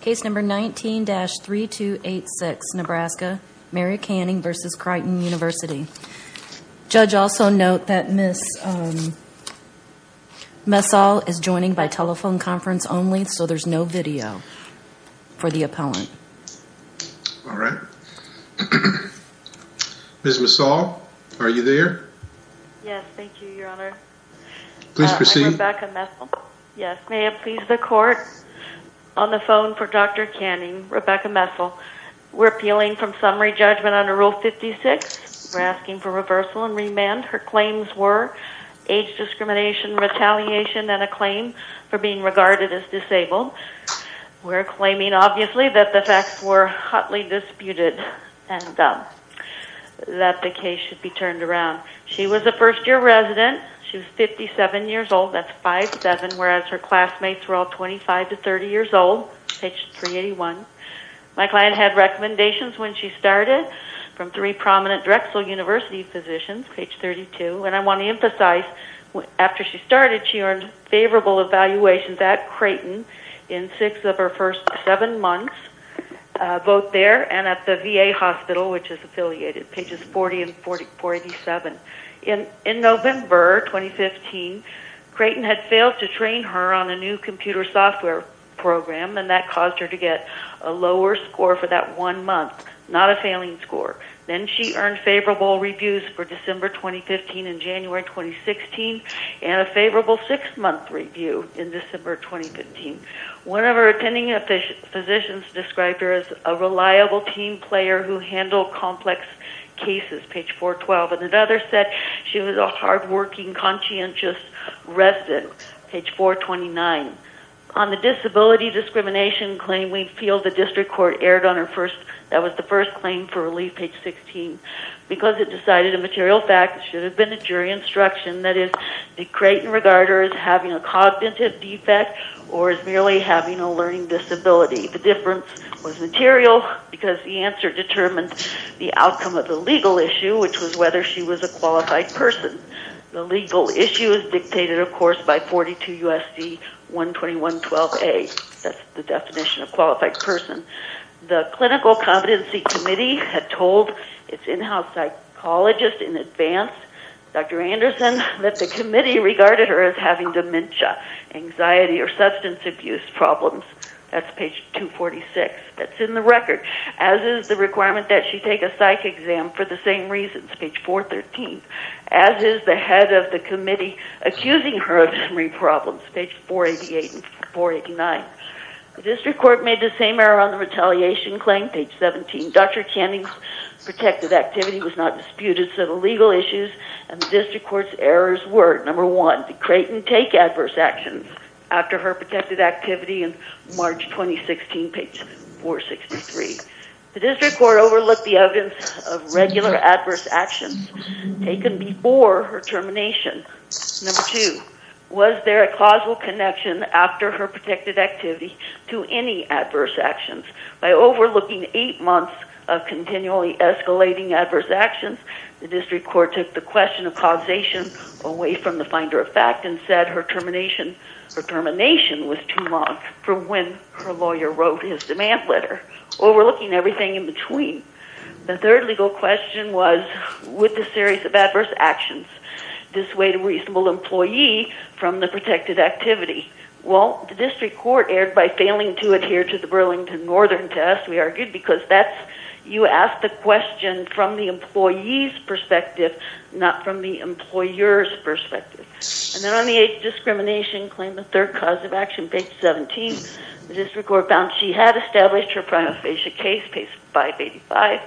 Case number 19-3286, Nebraska, Mary Canning v. Creighton University. Judge also note that Ms. Messal is joining by telephone conference only, so there's no video for the appellant. Alright. Ms. Messal, are you there? Yes, thank you, your honor. Please proceed. I'm Rebecca Messal. Yes, may it please the court, on the phone for Dr. Canning, Rebecca Messal, we're appealing from summary judgment under Rule 56, we're asking for reversal and remand. Her claims were age discrimination, retaliation, and a claim for being regarded as disabled. We're claiming, obviously, that the facts were hotly disputed and that the case should be turned around. She was a first-year resident, she was 57 years old, that's five-seven, whereas her classmates were all 25 to 30 years old, page 381. My client had recommendations when she started from three prominent Drexel University physicians, page 32. And I want to emphasize, after she started, she earned favorable evaluations at Creighton in six of her first seven months, both there and at the VA hospital, which is affiliated, pages 40 and 47. In November 2015, Creighton had failed to train her on a new computer software program and that caused her to get a lower score for that one month, not a failing score. Then she earned favorable reviews for December 2015 and January 2016, and a favorable six-month review in December 2015. One of her attending physicians described her as a reliable team player who handled complex cases, page 412. And another said she was a hard-working, conscientious resident, page 429. On the disability discrimination claim, we feel the district court erred on her first – that was the first claim for relief, page 16, because it decided a material fact, it should have been a jury instruction, that is, that Creighton regarded her as having a cognitive defect or as merely having a learning disability. The difference was material because the answer determined the outcome of the legal issue, which was whether she was a qualified person. The legal issue is dictated, of course, by 42 U.S.C. 121.12a. That's the definition of qualified person. The clinical competency committee had told its in-house psychologist in advance, Dr. Anderson, that the committee regarded her as having dementia, anxiety, or substance abuse problems. That's page 246. That's in the record, as is the requirement that she take a psych exam for the same reasons, page 413, as is the head of the committee accusing her of memory problems, page 488 and 489. The district court made the same error on the retaliation claim, page 17. Dr. Canning's protected activity was not disputed, so the legal issues and the district court's errors were, number one, did Creighton take adverse actions after her protected activity in March 2016, page 463? The district court overlooked the evidence of regular adverse actions taken before her termination. Number two, was there a causal connection after her protected activity to any adverse actions? By overlooking eight months of continually escalating adverse actions, the district court took the question of causation away from the finder of fact and said her termination was too long from when her lawyer wrote his demand letter, overlooking everything in between. The third legal question was, would the series of adverse actions dissuade a reasonable employee from the protected activity? Well, the district court erred by failing to adhere to the Burlington Northern test, we argued, because that's, you ask the question from the employee's perspective, not from the employer's perspective. And then on the age discrimination claim, the third cause of action, page 17, the district court found she had established her prima facie case, page 585,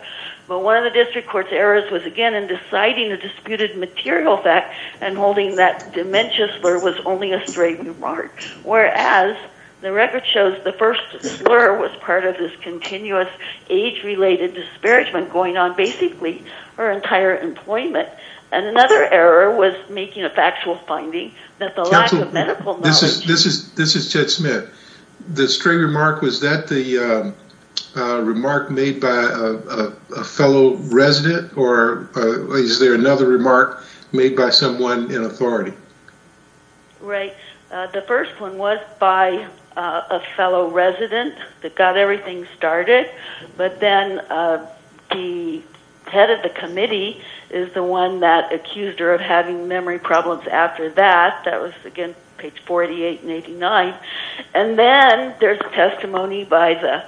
but one of the district court's errors was again in deciding the disputed material fact and holding that dementia slur was only a stray remark, whereas the record shows the first slur was part of this continuous age-related disparagement going on basically her entire employment, and another error was making a factual finding that the lack of medical knowledge... Counsel, this is Chet Smith. The stray remark, was that the remark made by a fellow resident, or is there another remark made by someone in authority? Right. The first one was by a fellow resident that got everything started, but then the head of the committee is the one that accused her of having memory problems after that, that was again page 48 and 89, and then there's testimony by the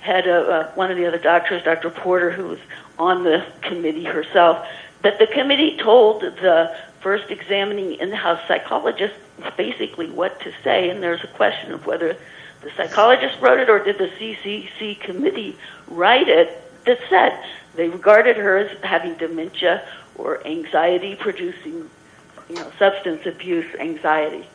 head of one of the other doctors, Dr. Porter, who was on the committee herself, that the committee told the first examining in-house psychologist basically what to say, and there's a question of whether the psychologist wrote it, or did the CCC committee write it that said they regarded her as having dementia or anxiety-producing, substance abuse anxiety.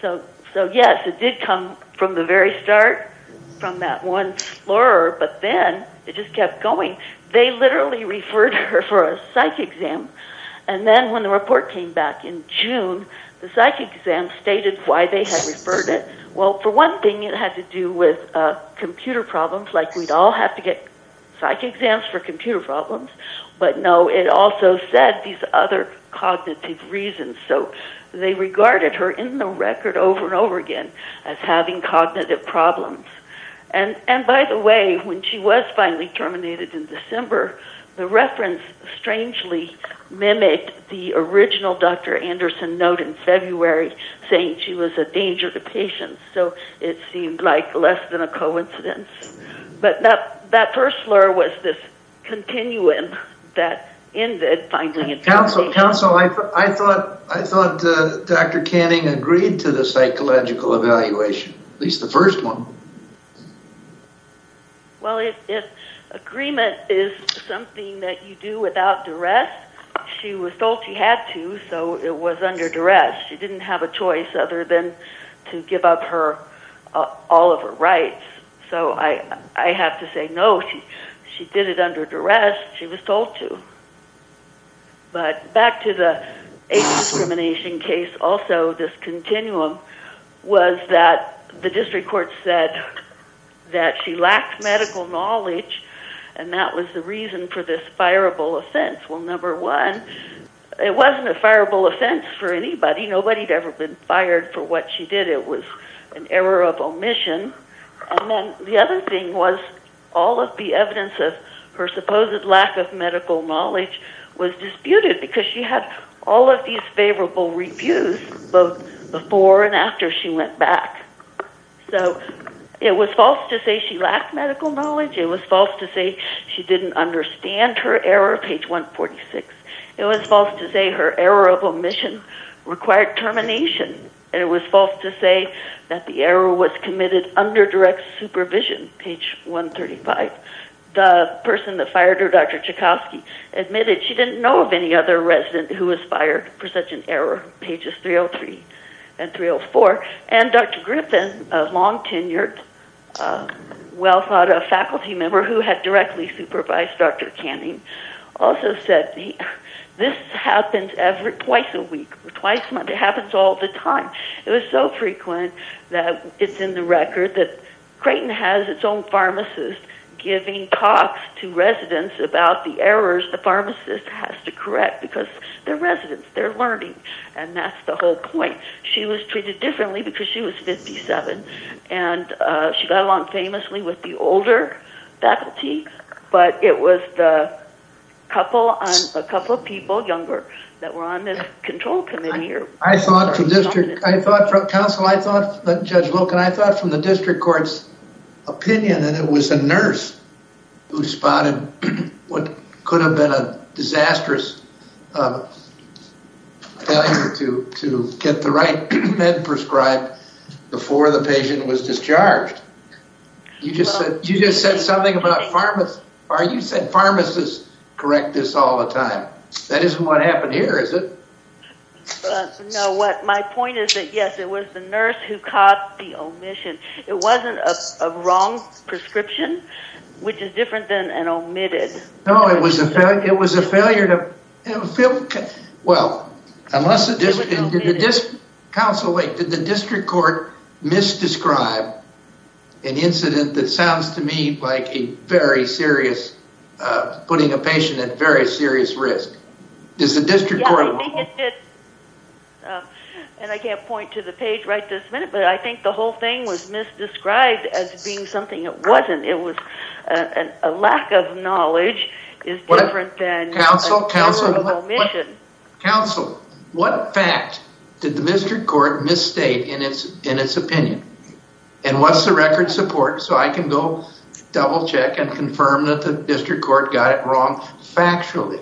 So yes, it did come from the very start from that one slur, but then it just kept going. They literally referred her for a psych exam, and then when the report came back in June, the psych exam stated why they had referred it. Well, for one thing, it had to do with computer problems, like we'd all have to get psych exams for computer problems, but no, it also said these other cognitive reasons, so they regarded her in the record over and over again as having cognitive problems. And by the way, when she was finally terminated in December, the reference strangely mimicked the original Dr. Anderson note in February, saying she was a danger to patients, so it seemed like less than a coincidence. But that first slur was this continuum that ended finally in January. Counsel, I thought Dr. Canning agreed to the psychological evaluation, at least the first one. Well, if agreement is something that you do without duress, she was told she had to, so it was under duress. She didn't have a choice other than to give up all of her rights. So I have to say no, she did it under duress. She was told to. But back to the age discrimination case, also this continuum was that the district court said that she lacked medical knowledge, and that was the reason for this fireable offense. Well, number one, it wasn't a fireable offense for anybody. Nobody had ever been fired for what she did. It was an error of omission. And then the other thing was all of the evidence of her supposed lack of medical knowledge was disputed because she had all of these favorable reviews both before and after she went back. So it was false to say she lacked medical knowledge. It was false to say she didn't understand her error, page 146. It was false to say her error of omission required termination. And it was false to say that the error was committed under direct supervision, page 135. The person that fired her, Dr. Chikofsky, admitted she didn't know of any other resident who was fired for such an error, pages 303 and 304. And Dr. Griffin, a long-tenured, well-thought-out faculty member who had directly supervised Dr. Canning, also said this happens twice a week or twice a month. It happens all the time. It was so frequent that it's in the record that Creighton has its own pharmacist giving talks to residents about the errors the pharmacist has to correct because they're residents. They're learning. And that's the whole point. She was treated differently because she was 57. And she got along famously with the older faculty. But it was a couple of people younger that were on this control committee. I thought from the district court's opinion that it was a nurse who spotted what could have been a disastrous failure to get the right med prescribed before the patient was discharged. You just said something about pharmacists. You said pharmacists correct this all the time. That isn't what happened here, is it? No, what my point is that, yes, it was the nurse who caught the omission. It wasn't a wrong prescription, which is different than an omitted. No, it was a failure to... Well, did the district court misdescribe an incident that sounds to me like putting a patient at very serious risk? I think it did, and I can't point to the page right this minute, but I think the whole thing was misdescribed as being something it wasn't. A lack of knowledge is different than a terrible omission. Counsel, what fact did the district court misstate in its opinion? And what's the record support so I can go double check and confirm that the district court got it wrong factually?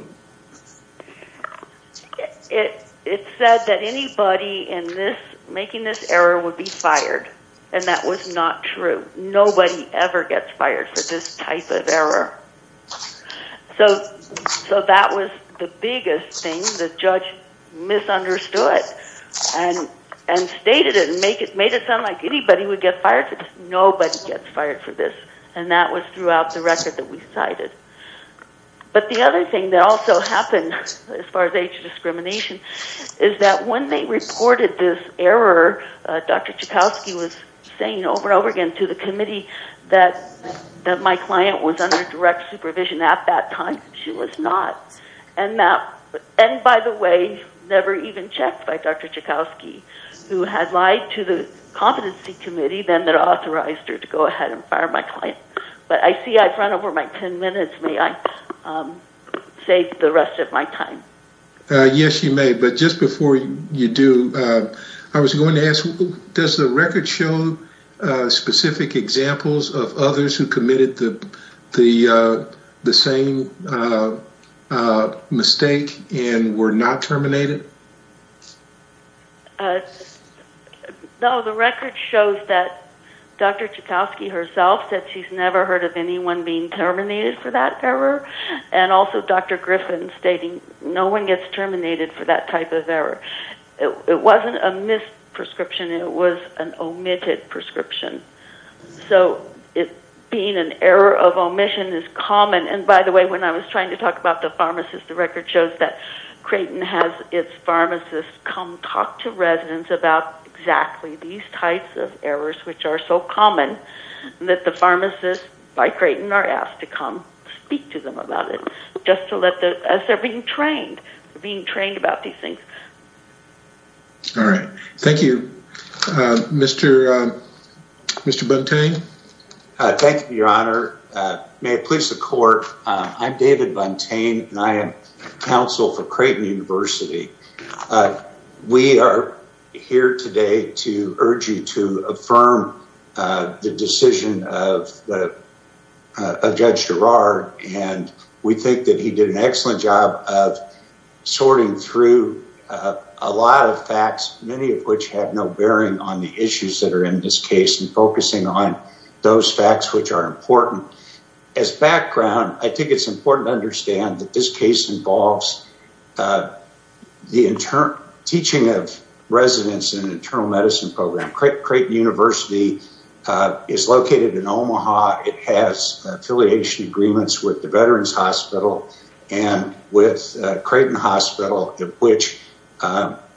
It said that anybody making this error would be fired, and that was not true. Nobody ever gets fired for this type of error. So that was the biggest thing. The judge misunderstood and stated it and made it sound like anybody would get fired for this. Nobody gets fired for this, and that was throughout the record that we cited. But the other thing that also happened, as far as age discrimination, is that when they said to the committee that my client was under direct supervision at that time, she was not. And by the way, never even checked by Dr. Chikowsky, who had lied to the competency committee then that authorized her to go ahead and fire my client. But I see I've run over my ten minutes. May I save the rest of my time? Yes, you may, but just before you do, I was going to ask does the record show specific examples of others who committed the same mistake and were not terminated? No, the record shows that Dr. Chikowsky herself said she's never heard of anyone being terminated for that error. And also Dr. Griffin stating no one gets terminated for that type of error. It wasn't a missed prescription. It was an omitted prescription. So it being an error of omission is common. And by the way, when I was trying to talk about the pharmacist, the record shows that Creighton has its pharmacists come talk to residents about exactly these types of errors which are so common that the pharmacists by Creighton are asked to come speak to them about it just as they're being trained about these things. All right. Mr. Buntain? Thank you, Your Honor. May it please the court, I'm David Buntain and I am counsel for Creighton University. We are here today to urge you to affirm the decision of Judge Girard. And we think that he did an excellent job of sorting through a lot of facts, many of which have no bearing on the issues that are in this case, and focusing on those facts which are important. As background, I think it's important to understand that this case involves the teaching of residents in an internal medicine program. Creighton University is located in Omaha. It has affiliation agreements with the Veterans Hospital and with Creighton Hospital, of which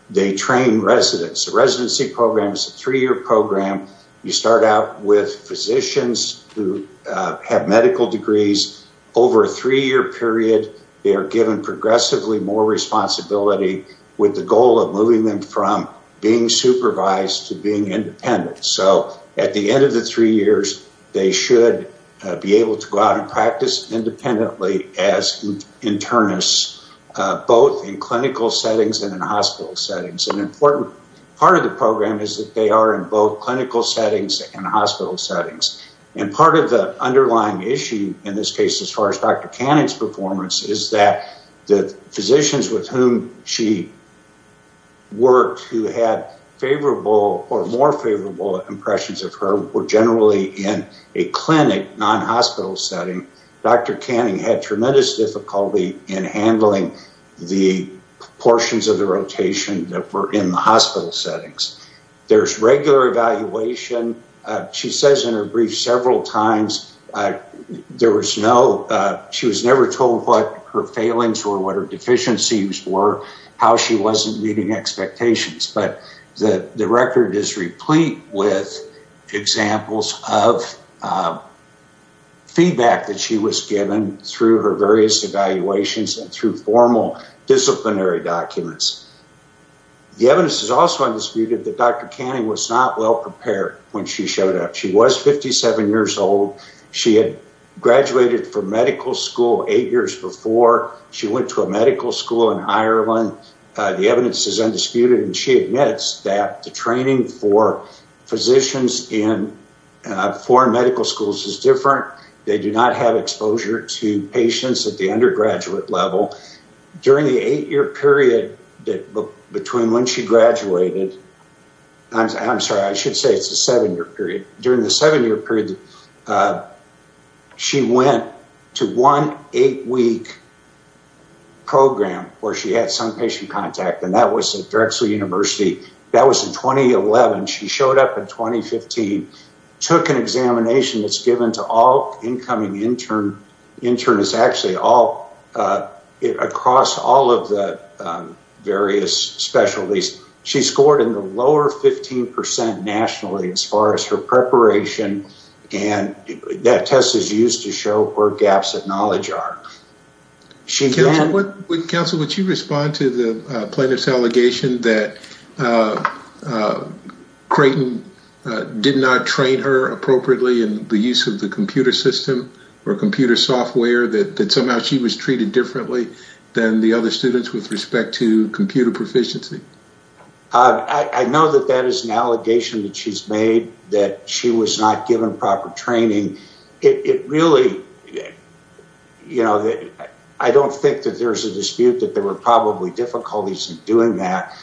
they train residents. The residency program is a three-year program. You start out with physicians who have medical degrees. Over a three-year period, they are given progressively more responsibility with the goal of moving them from being supervised to being independent. So at the end of the three years, they should be able to go out and practice independently as internists, both in clinical settings and in hospital settings. An important part of the program is that they are in both clinical settings and hospital settings. And part of the underlying issue in this case as far as Dr. Canning's performance is that the physicians with whom she worked who had favorable or more favorable impressions of her were generally in a clinic, non-hospital setting. Dr. Canning had tremendous difficulty in handling the portions of the rotation that were in the hospital settings. There's regular evaluation. She says in her brief several times there was no, she was never told what her failings or what her deficiencies were, how she wasn't meeting expectations. But the record is replete with examples of feedback that she was given through her various evaluations and through formal disciplinary documents. The evidence is also undisputed that Dr. Canning was not well prepared when she showed up. She was 57 years old. She had graduated from medical school eight years before. She went to a medical school in Ireland. The evidence is undisputed and she admits that the training for physicians in foreign medical schools is different. They do not have exposure to patients at the undergraduate level. During the eight-year period between when she graduated, I'm sorry, I should say it's a seven-year period, during the seven-year period she went to one eight-week program where she had some patient contact and that was at Drexel University. That was in 2011. She showed up in 2015, took an examination that's given to all incoming internists actually all across all of the various specialties. She scored in the lower 15% nationally as far as her preparation and that test is used to show where gaps of knowledge are. Counsel, would you respond to the plaintiff's allegation that Creighton did not train her appropriately in the use of the computer system or computer software, that somehow she was treated differently than the other students with respect to computer proficiency? I know that that is an allegation that she's made, that she was not given proper training. It really, you know, I don't think that there's a dispute that there were probably difficulties in doing that.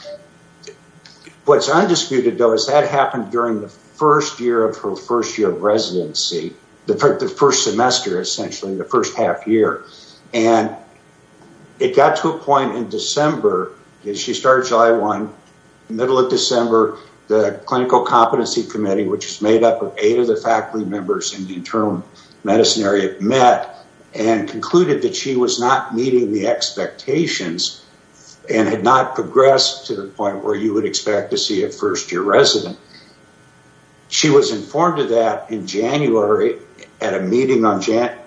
What's undisputed, though, is that happened during the first year of her first year of residency, the first semester essentially, the first half year. It got to a point in December, she started July 1, middle of December, the clinical competency committee, which is made up of eight of the faculty members in the internal medicine area met and concluded that she was not meeting the expectations and had not progressed to the point where you would expect to see a first year resident. She was informed of that in January at a meeting on January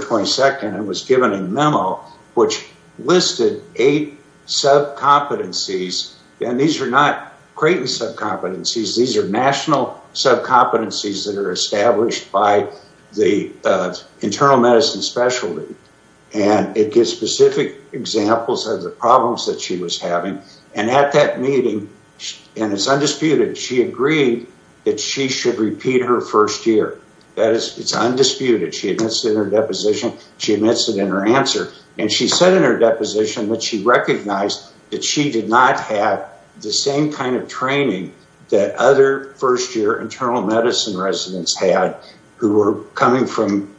22nd and was given a memo which listed eight subcompetencies, and these are not Creighton subcompetencies, these are national subcompetencies that are established by the internal medicine specialty. And it gives specific examples of the problems that she was having. And at that meeting, and it's undisputed, she agreed that she should repeat her first year. That is, it's undisputed. She admits it in her deposition, she admits it in her answer. And she said in her deposition that she recognized that she did not have the same kind of training that other first year internal medicine residents had who were coming from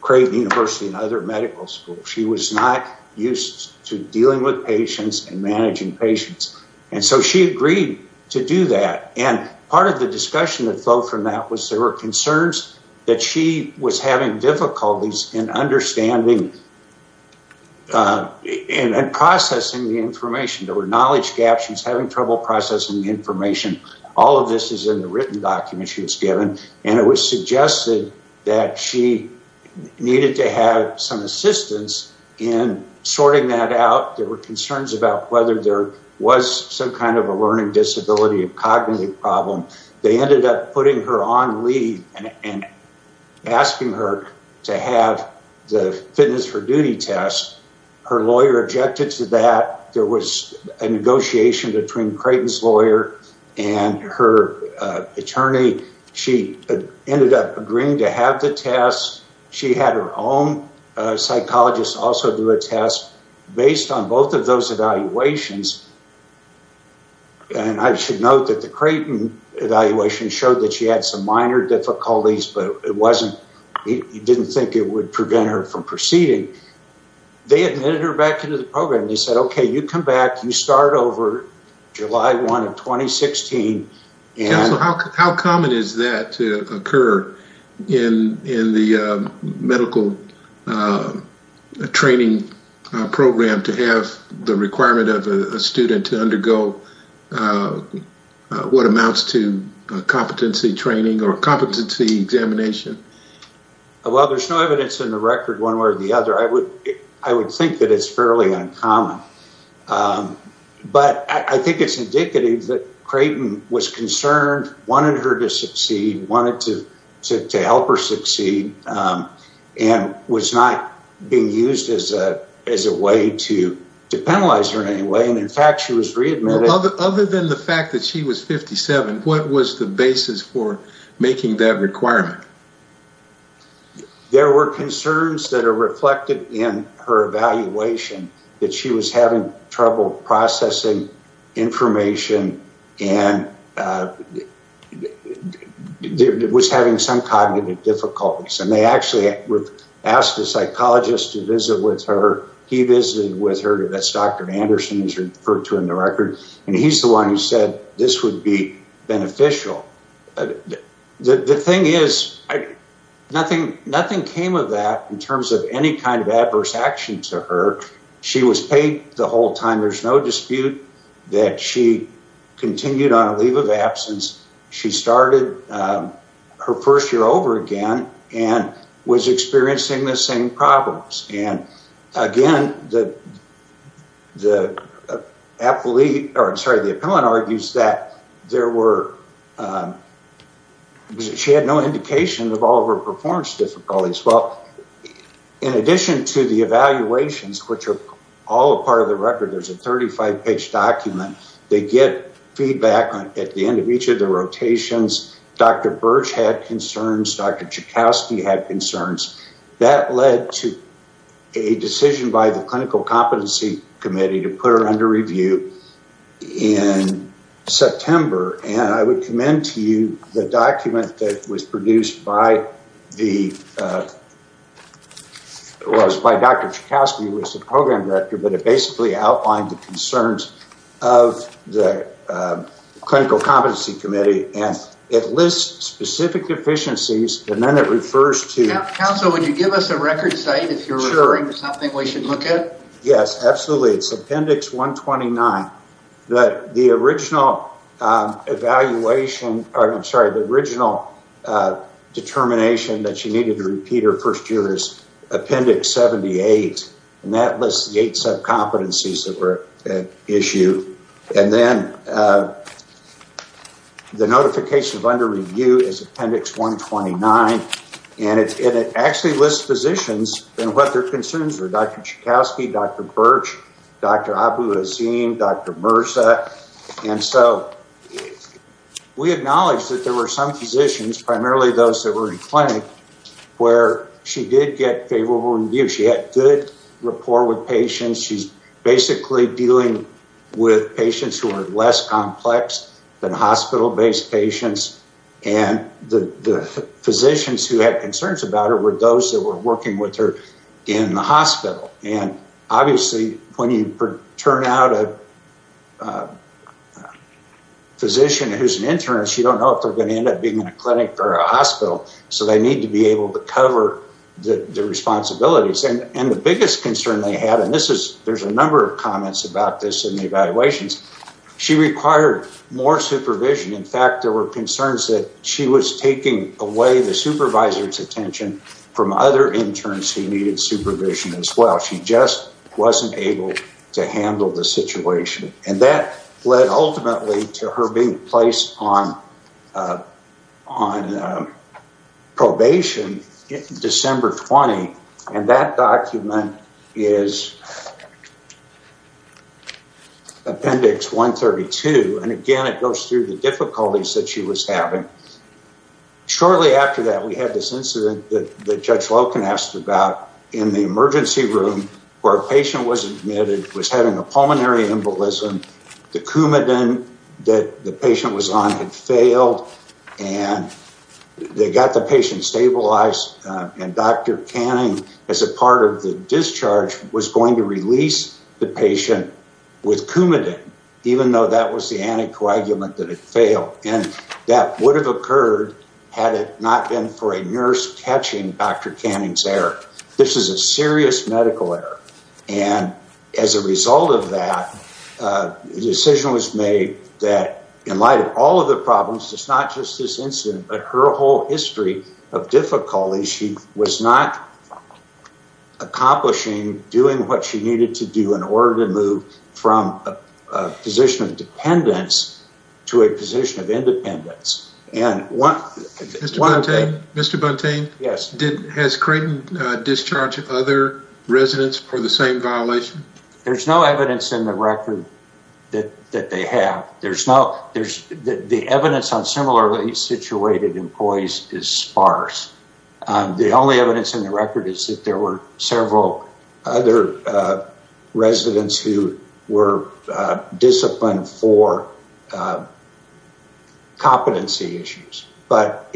Creighton University and other medical schools. She was not used to dealing with patients and managing patients. And so she agreed to do that. And part of the discussion that flowed from that was there were concerns that she was having difficulties in understanding and processing the information. There were knowledge gaps, she was having trouble processing the information. All of this is in the written document she was given. And it was suggested that she needed to have some assistance in sorting that out. There were concerns about whether there was some kind of a learning disability or cognitive problem. They ended up putting her on leave and asking her to have the fitness for duty test. Her lawyer objected to that. There was a negotiation between Creighton's lawyer and her attorney. She ended up agreeing to have the test. She had her own psychologist also do a test. Based on both of those evaluations, and I should note that the Creighton evaluation showed that she had some minor difficulties, but he didn't think it would prevent her from proceeding. They admitted her back into the program. They said, okay, you come back, you start over July 1 of 2016. How common is that to occur in the medical training program to have the requirement of a student to undergo what amounts to competency training or competency examination? Well, there's no evidence in the record one way or the other. I would think that it's fairly uncommon. But I think it's indicative that Creighton was concerned, wanted her to succeed, wanted to help her succeed, and was not being used as a way to penalize her in any way. In fact, she was readmitted. Other than the fact that she was 57, what was the basis for making that requirement? There were concerns that are reflected in her evaluation that she was having trouble processing information and was having some cognitive difficulties. And they actually asked a psychologist to visit with her. He visited with her. That's Dr. Anderson, as referred to in the record. And he's the one who said this would be beneficial. The thing is, nothing came of that in terms of any kind of adverse action to her. She was paid the whole time. There's no dispute that she continued on a leave of absence. She started her first year over again and was experiencing the same problems. And again, the appellant argues that she had no indication of all of her performance difficulties. Well, in addition to the evaluations, which are all a part of the record, there's a 35-page document. They get feedback at the end of each of the rotations. Dr. Birch had concerns. Dr. Joukowsky had concerns. That led to a decision by the Clinical Competency Committee to put her under review in September. And I would commend to you the document that was produced by Dr. Joukowsky, who was the program director. But it basically outlined the concerns of the Clinical Competency Committee. And it lists specific deficiencies. And then it refers to... Counsel, would you give us a record site if you're referring to something we should look at? Yes, absolutely. It's Appendix 129. The original determination that she needed to repeat her first year is Appendix 78. And that lists the eight subcompetencies that were at issue. And then the notification of under review is Appendix 129. And it actually lists physicians and what their concerns were. Dr. Joukowsky, Dr. Birch, Dr. Abu-Azim, Dr. Mirza. And so we acknowledge that there were some physicians, primarily those that were in clinic, where she did get favorable reviews. She had good rapport with patients. She's basically dealing with patients who are less complex than hospital-based patients. And the physicians who had concerns about her were those that were working with her in the hospital. And obviously, when you turn out a physician who's an intern, you don't know if they're going to end up being in a clinic or a hospital. So they need to be able to cover the responsibilities. And the biggest concern they had, and there's a number of comments about this in the evaluations, she required more supervision. In fact, there were concerns that she was taking away the supervisor's attention from other interns who needed supervision as well. She just wasn't able to handle the situation. And that led ultimately to her being placed on probation December 20. And that document is Appendix 132. And again, it goes through the difficulties that she was having. Shortly after that, we had this incident that Judge Loken asked about in the emergency room where a patient was admitted, was having a pulmonary embolism. The Coumadin that the patient was on had failed. And they got the patient stabilized. And Dr. Canning, as a part of the discharge, was going to release the patient with Coumadin, even though that was the anticoagulant that had failed. And that would have occurred had it not been for a nurse catching Dr. Canning's error. This is a serious medical error. And as a result of that, a decision was made that in light of all of the problems, it's not just this incident, but her whole history of difficulty, she was not accomplishing doing what she needed to do in order to move from a position of dependence to a position of independence. And one- Mr. Buntain? Yes. Has Creighton discharged other residents for the same violation? There's no evidence in the record that they have. The evidence on similarly situated employees is sparse. The only evidence in the record is that there were several other residents who were disciplined for competency issues. But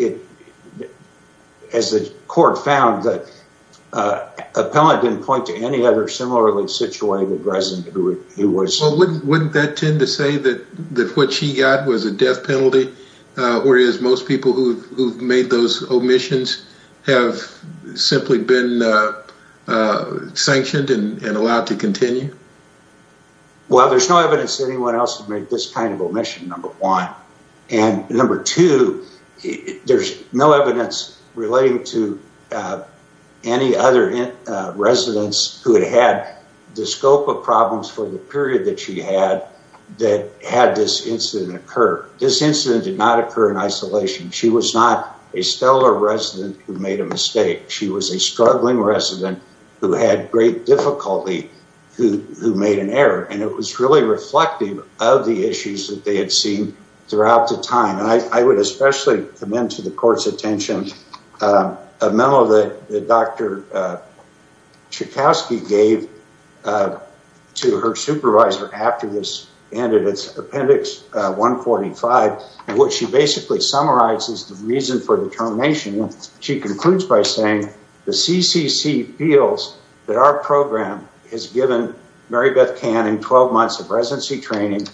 as the court found, the appellant didn't point to any other similarly situated resident who was- Well, wouldn't that tend to say that what she got was a death penalty, whereas most people who've made those omissions have simply been sanctioned and allowed to continue? Well, there's no evidence that anyone else has made this kind of omission, number one. And number two, there's no evidence relating to any other residents who had had the scope of problems for the period that she had that had this incident occur. This incident did not occur in isolation. She was not a stellar resident who made a mistake. She was a struggling resident who had great difficulty who made an error. And it was really reflective of the issues that they had seen throughout the time. And I would especially commend to the court's attention a memo that Dr. Chikowsky gave to her supervisor after this ended, it's Appendix 145, in which she basically summarizes the reason for the termination. She concludes by saying, the CCC feels that our program has given Marybeth Kann and 12 months of residency training,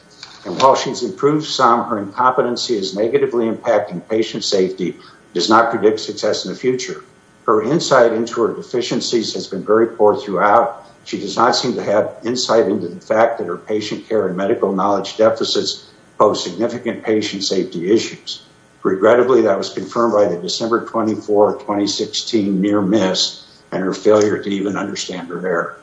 and while she's improved some, her incompetency is negatively impacting patient safety, does not predict success in the future. Her insight into her deficiencies has been very poor throughout. She does not seem to have insight into the fact that her patient care and medical knowledge deficits pose significant patient safety issues. Regrettably, that was confirmed by the December 24, 2016 near miss and her failure to even understand her error.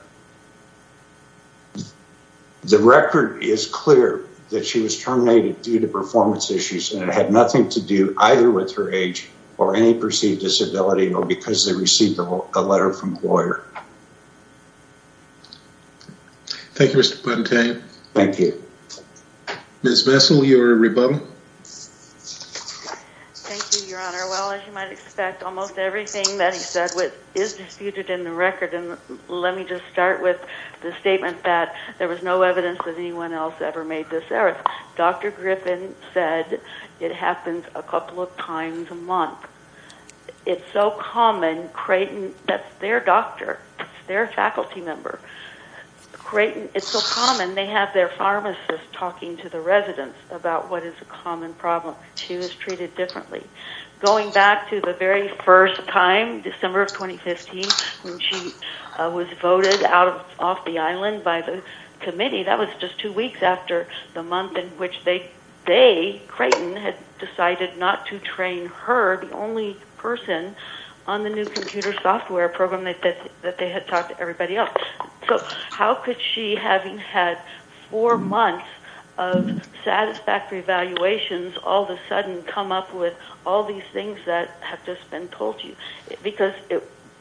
The record is clear that she was terminated due to performance issues and it had nothing to do either with her age or any perceived disability or because they received a letter from a lawyer. Thank you, Mr. Thank you. Ms. Vessel, your rebuttal. Thank you, Your Honor. Well, as you might expect, almost everything that he said is disputed in the record. And let me just start with the statement that there was no evidence that anyone else ever made this error. Dr. Griffin said it happens a couple of times a month. It's so common. Creighton, that's their doctor. It's their faculty member. Creighton, it's so common. They have their pharmacist talking to the residents about what is a common problem. She was treated differently. Going back to the very first time, December of 2015, when she was voted off the island by the committee, that was just two weeks after the month in which they, Creighton, had decided not to train her, the only person on the new computer software program that they had talked to everybody else. So how could she, having had four months of satisfactory evaluations, all of a sudden come up with all these things that have just been told to you? Because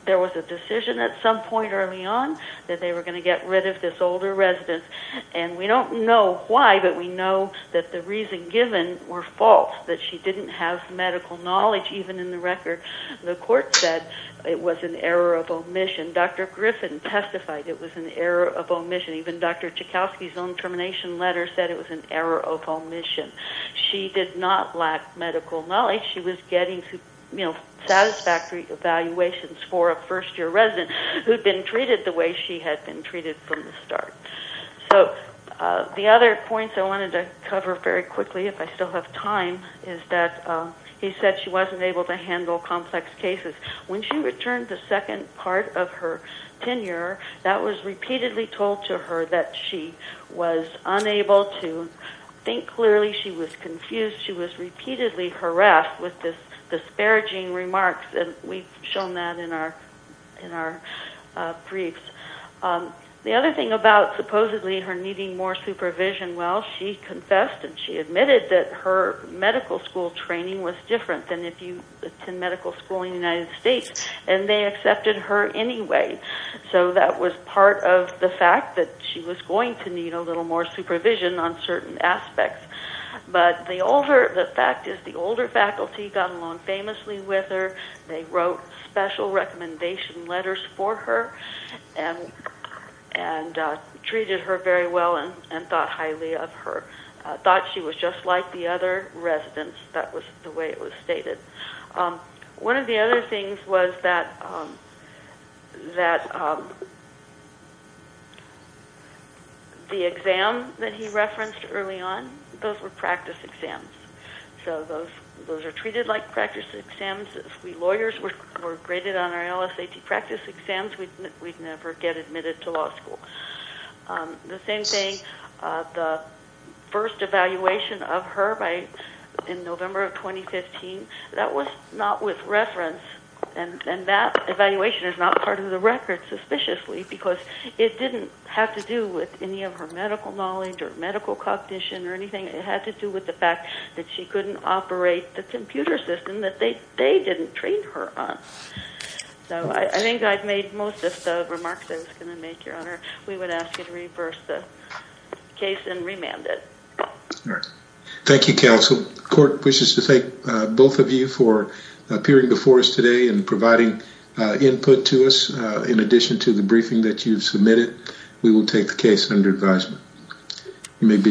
there was a decision at some point early on that they were going to get rid of this older resident. And we don't know why, but we know that the reasons given were false, that she didn't have medical knowledge even in the record. The court said it was an error of omission. Dr. Griffin testified it was an error of omission. Even Dr. Joukowsky's own termination letter said it was an error of omission. She did not lack medical knowledge. She was getting satisfactory evaluations for a first-year resident who had been treated the way she had been treated from the start. So the other points I wanted to cover very quickly, if I still have time, is that he said she wasn't able to handle complex cases. When she returned the second part of her tenure, that was repeatedly told to her that she was unable to think clearly and she was confused. She was repeatedly harassed with disparaging remarks, and we've shown that in our briefs. The other thing about supposedly her needing more supervision, well, she confessed and she admitted that her medical school training was different than if you attend medical school in the United States, and they accepted her anyway. So that was part of the fact that she was going to need a little more But the fact is the older faculty got along famously with her. They wrote special recommendation letters for her and treated her very well and thought highly of her, thought she was just like the other residents. That was the way it was stated. One of the other things was that the exam that he referenced early on, those were practice exams. So those are treated like practice exams. If we lawyers were graded on our LSAT practice exams, we'd never get admitted to law school. The same thing, the first evaluation of her in November of 2015, that was not with reference, and that evaluation is not part of the record suspiciously because it didn't have to do with any of her medical knowledge or medical cognition or anything. It had to do with the fact that she couldn't operate the computer system that they didn't treat her on. So I think I've made most of the remarks I was going to make, Your Honor. We would ask you to reverse the case and remand it. All right. Thank you, Counsel. The court wishes to thank both of you for appearing before us today In addition to the briefing that you've submitted, we will take the case under advisement. You may be excused.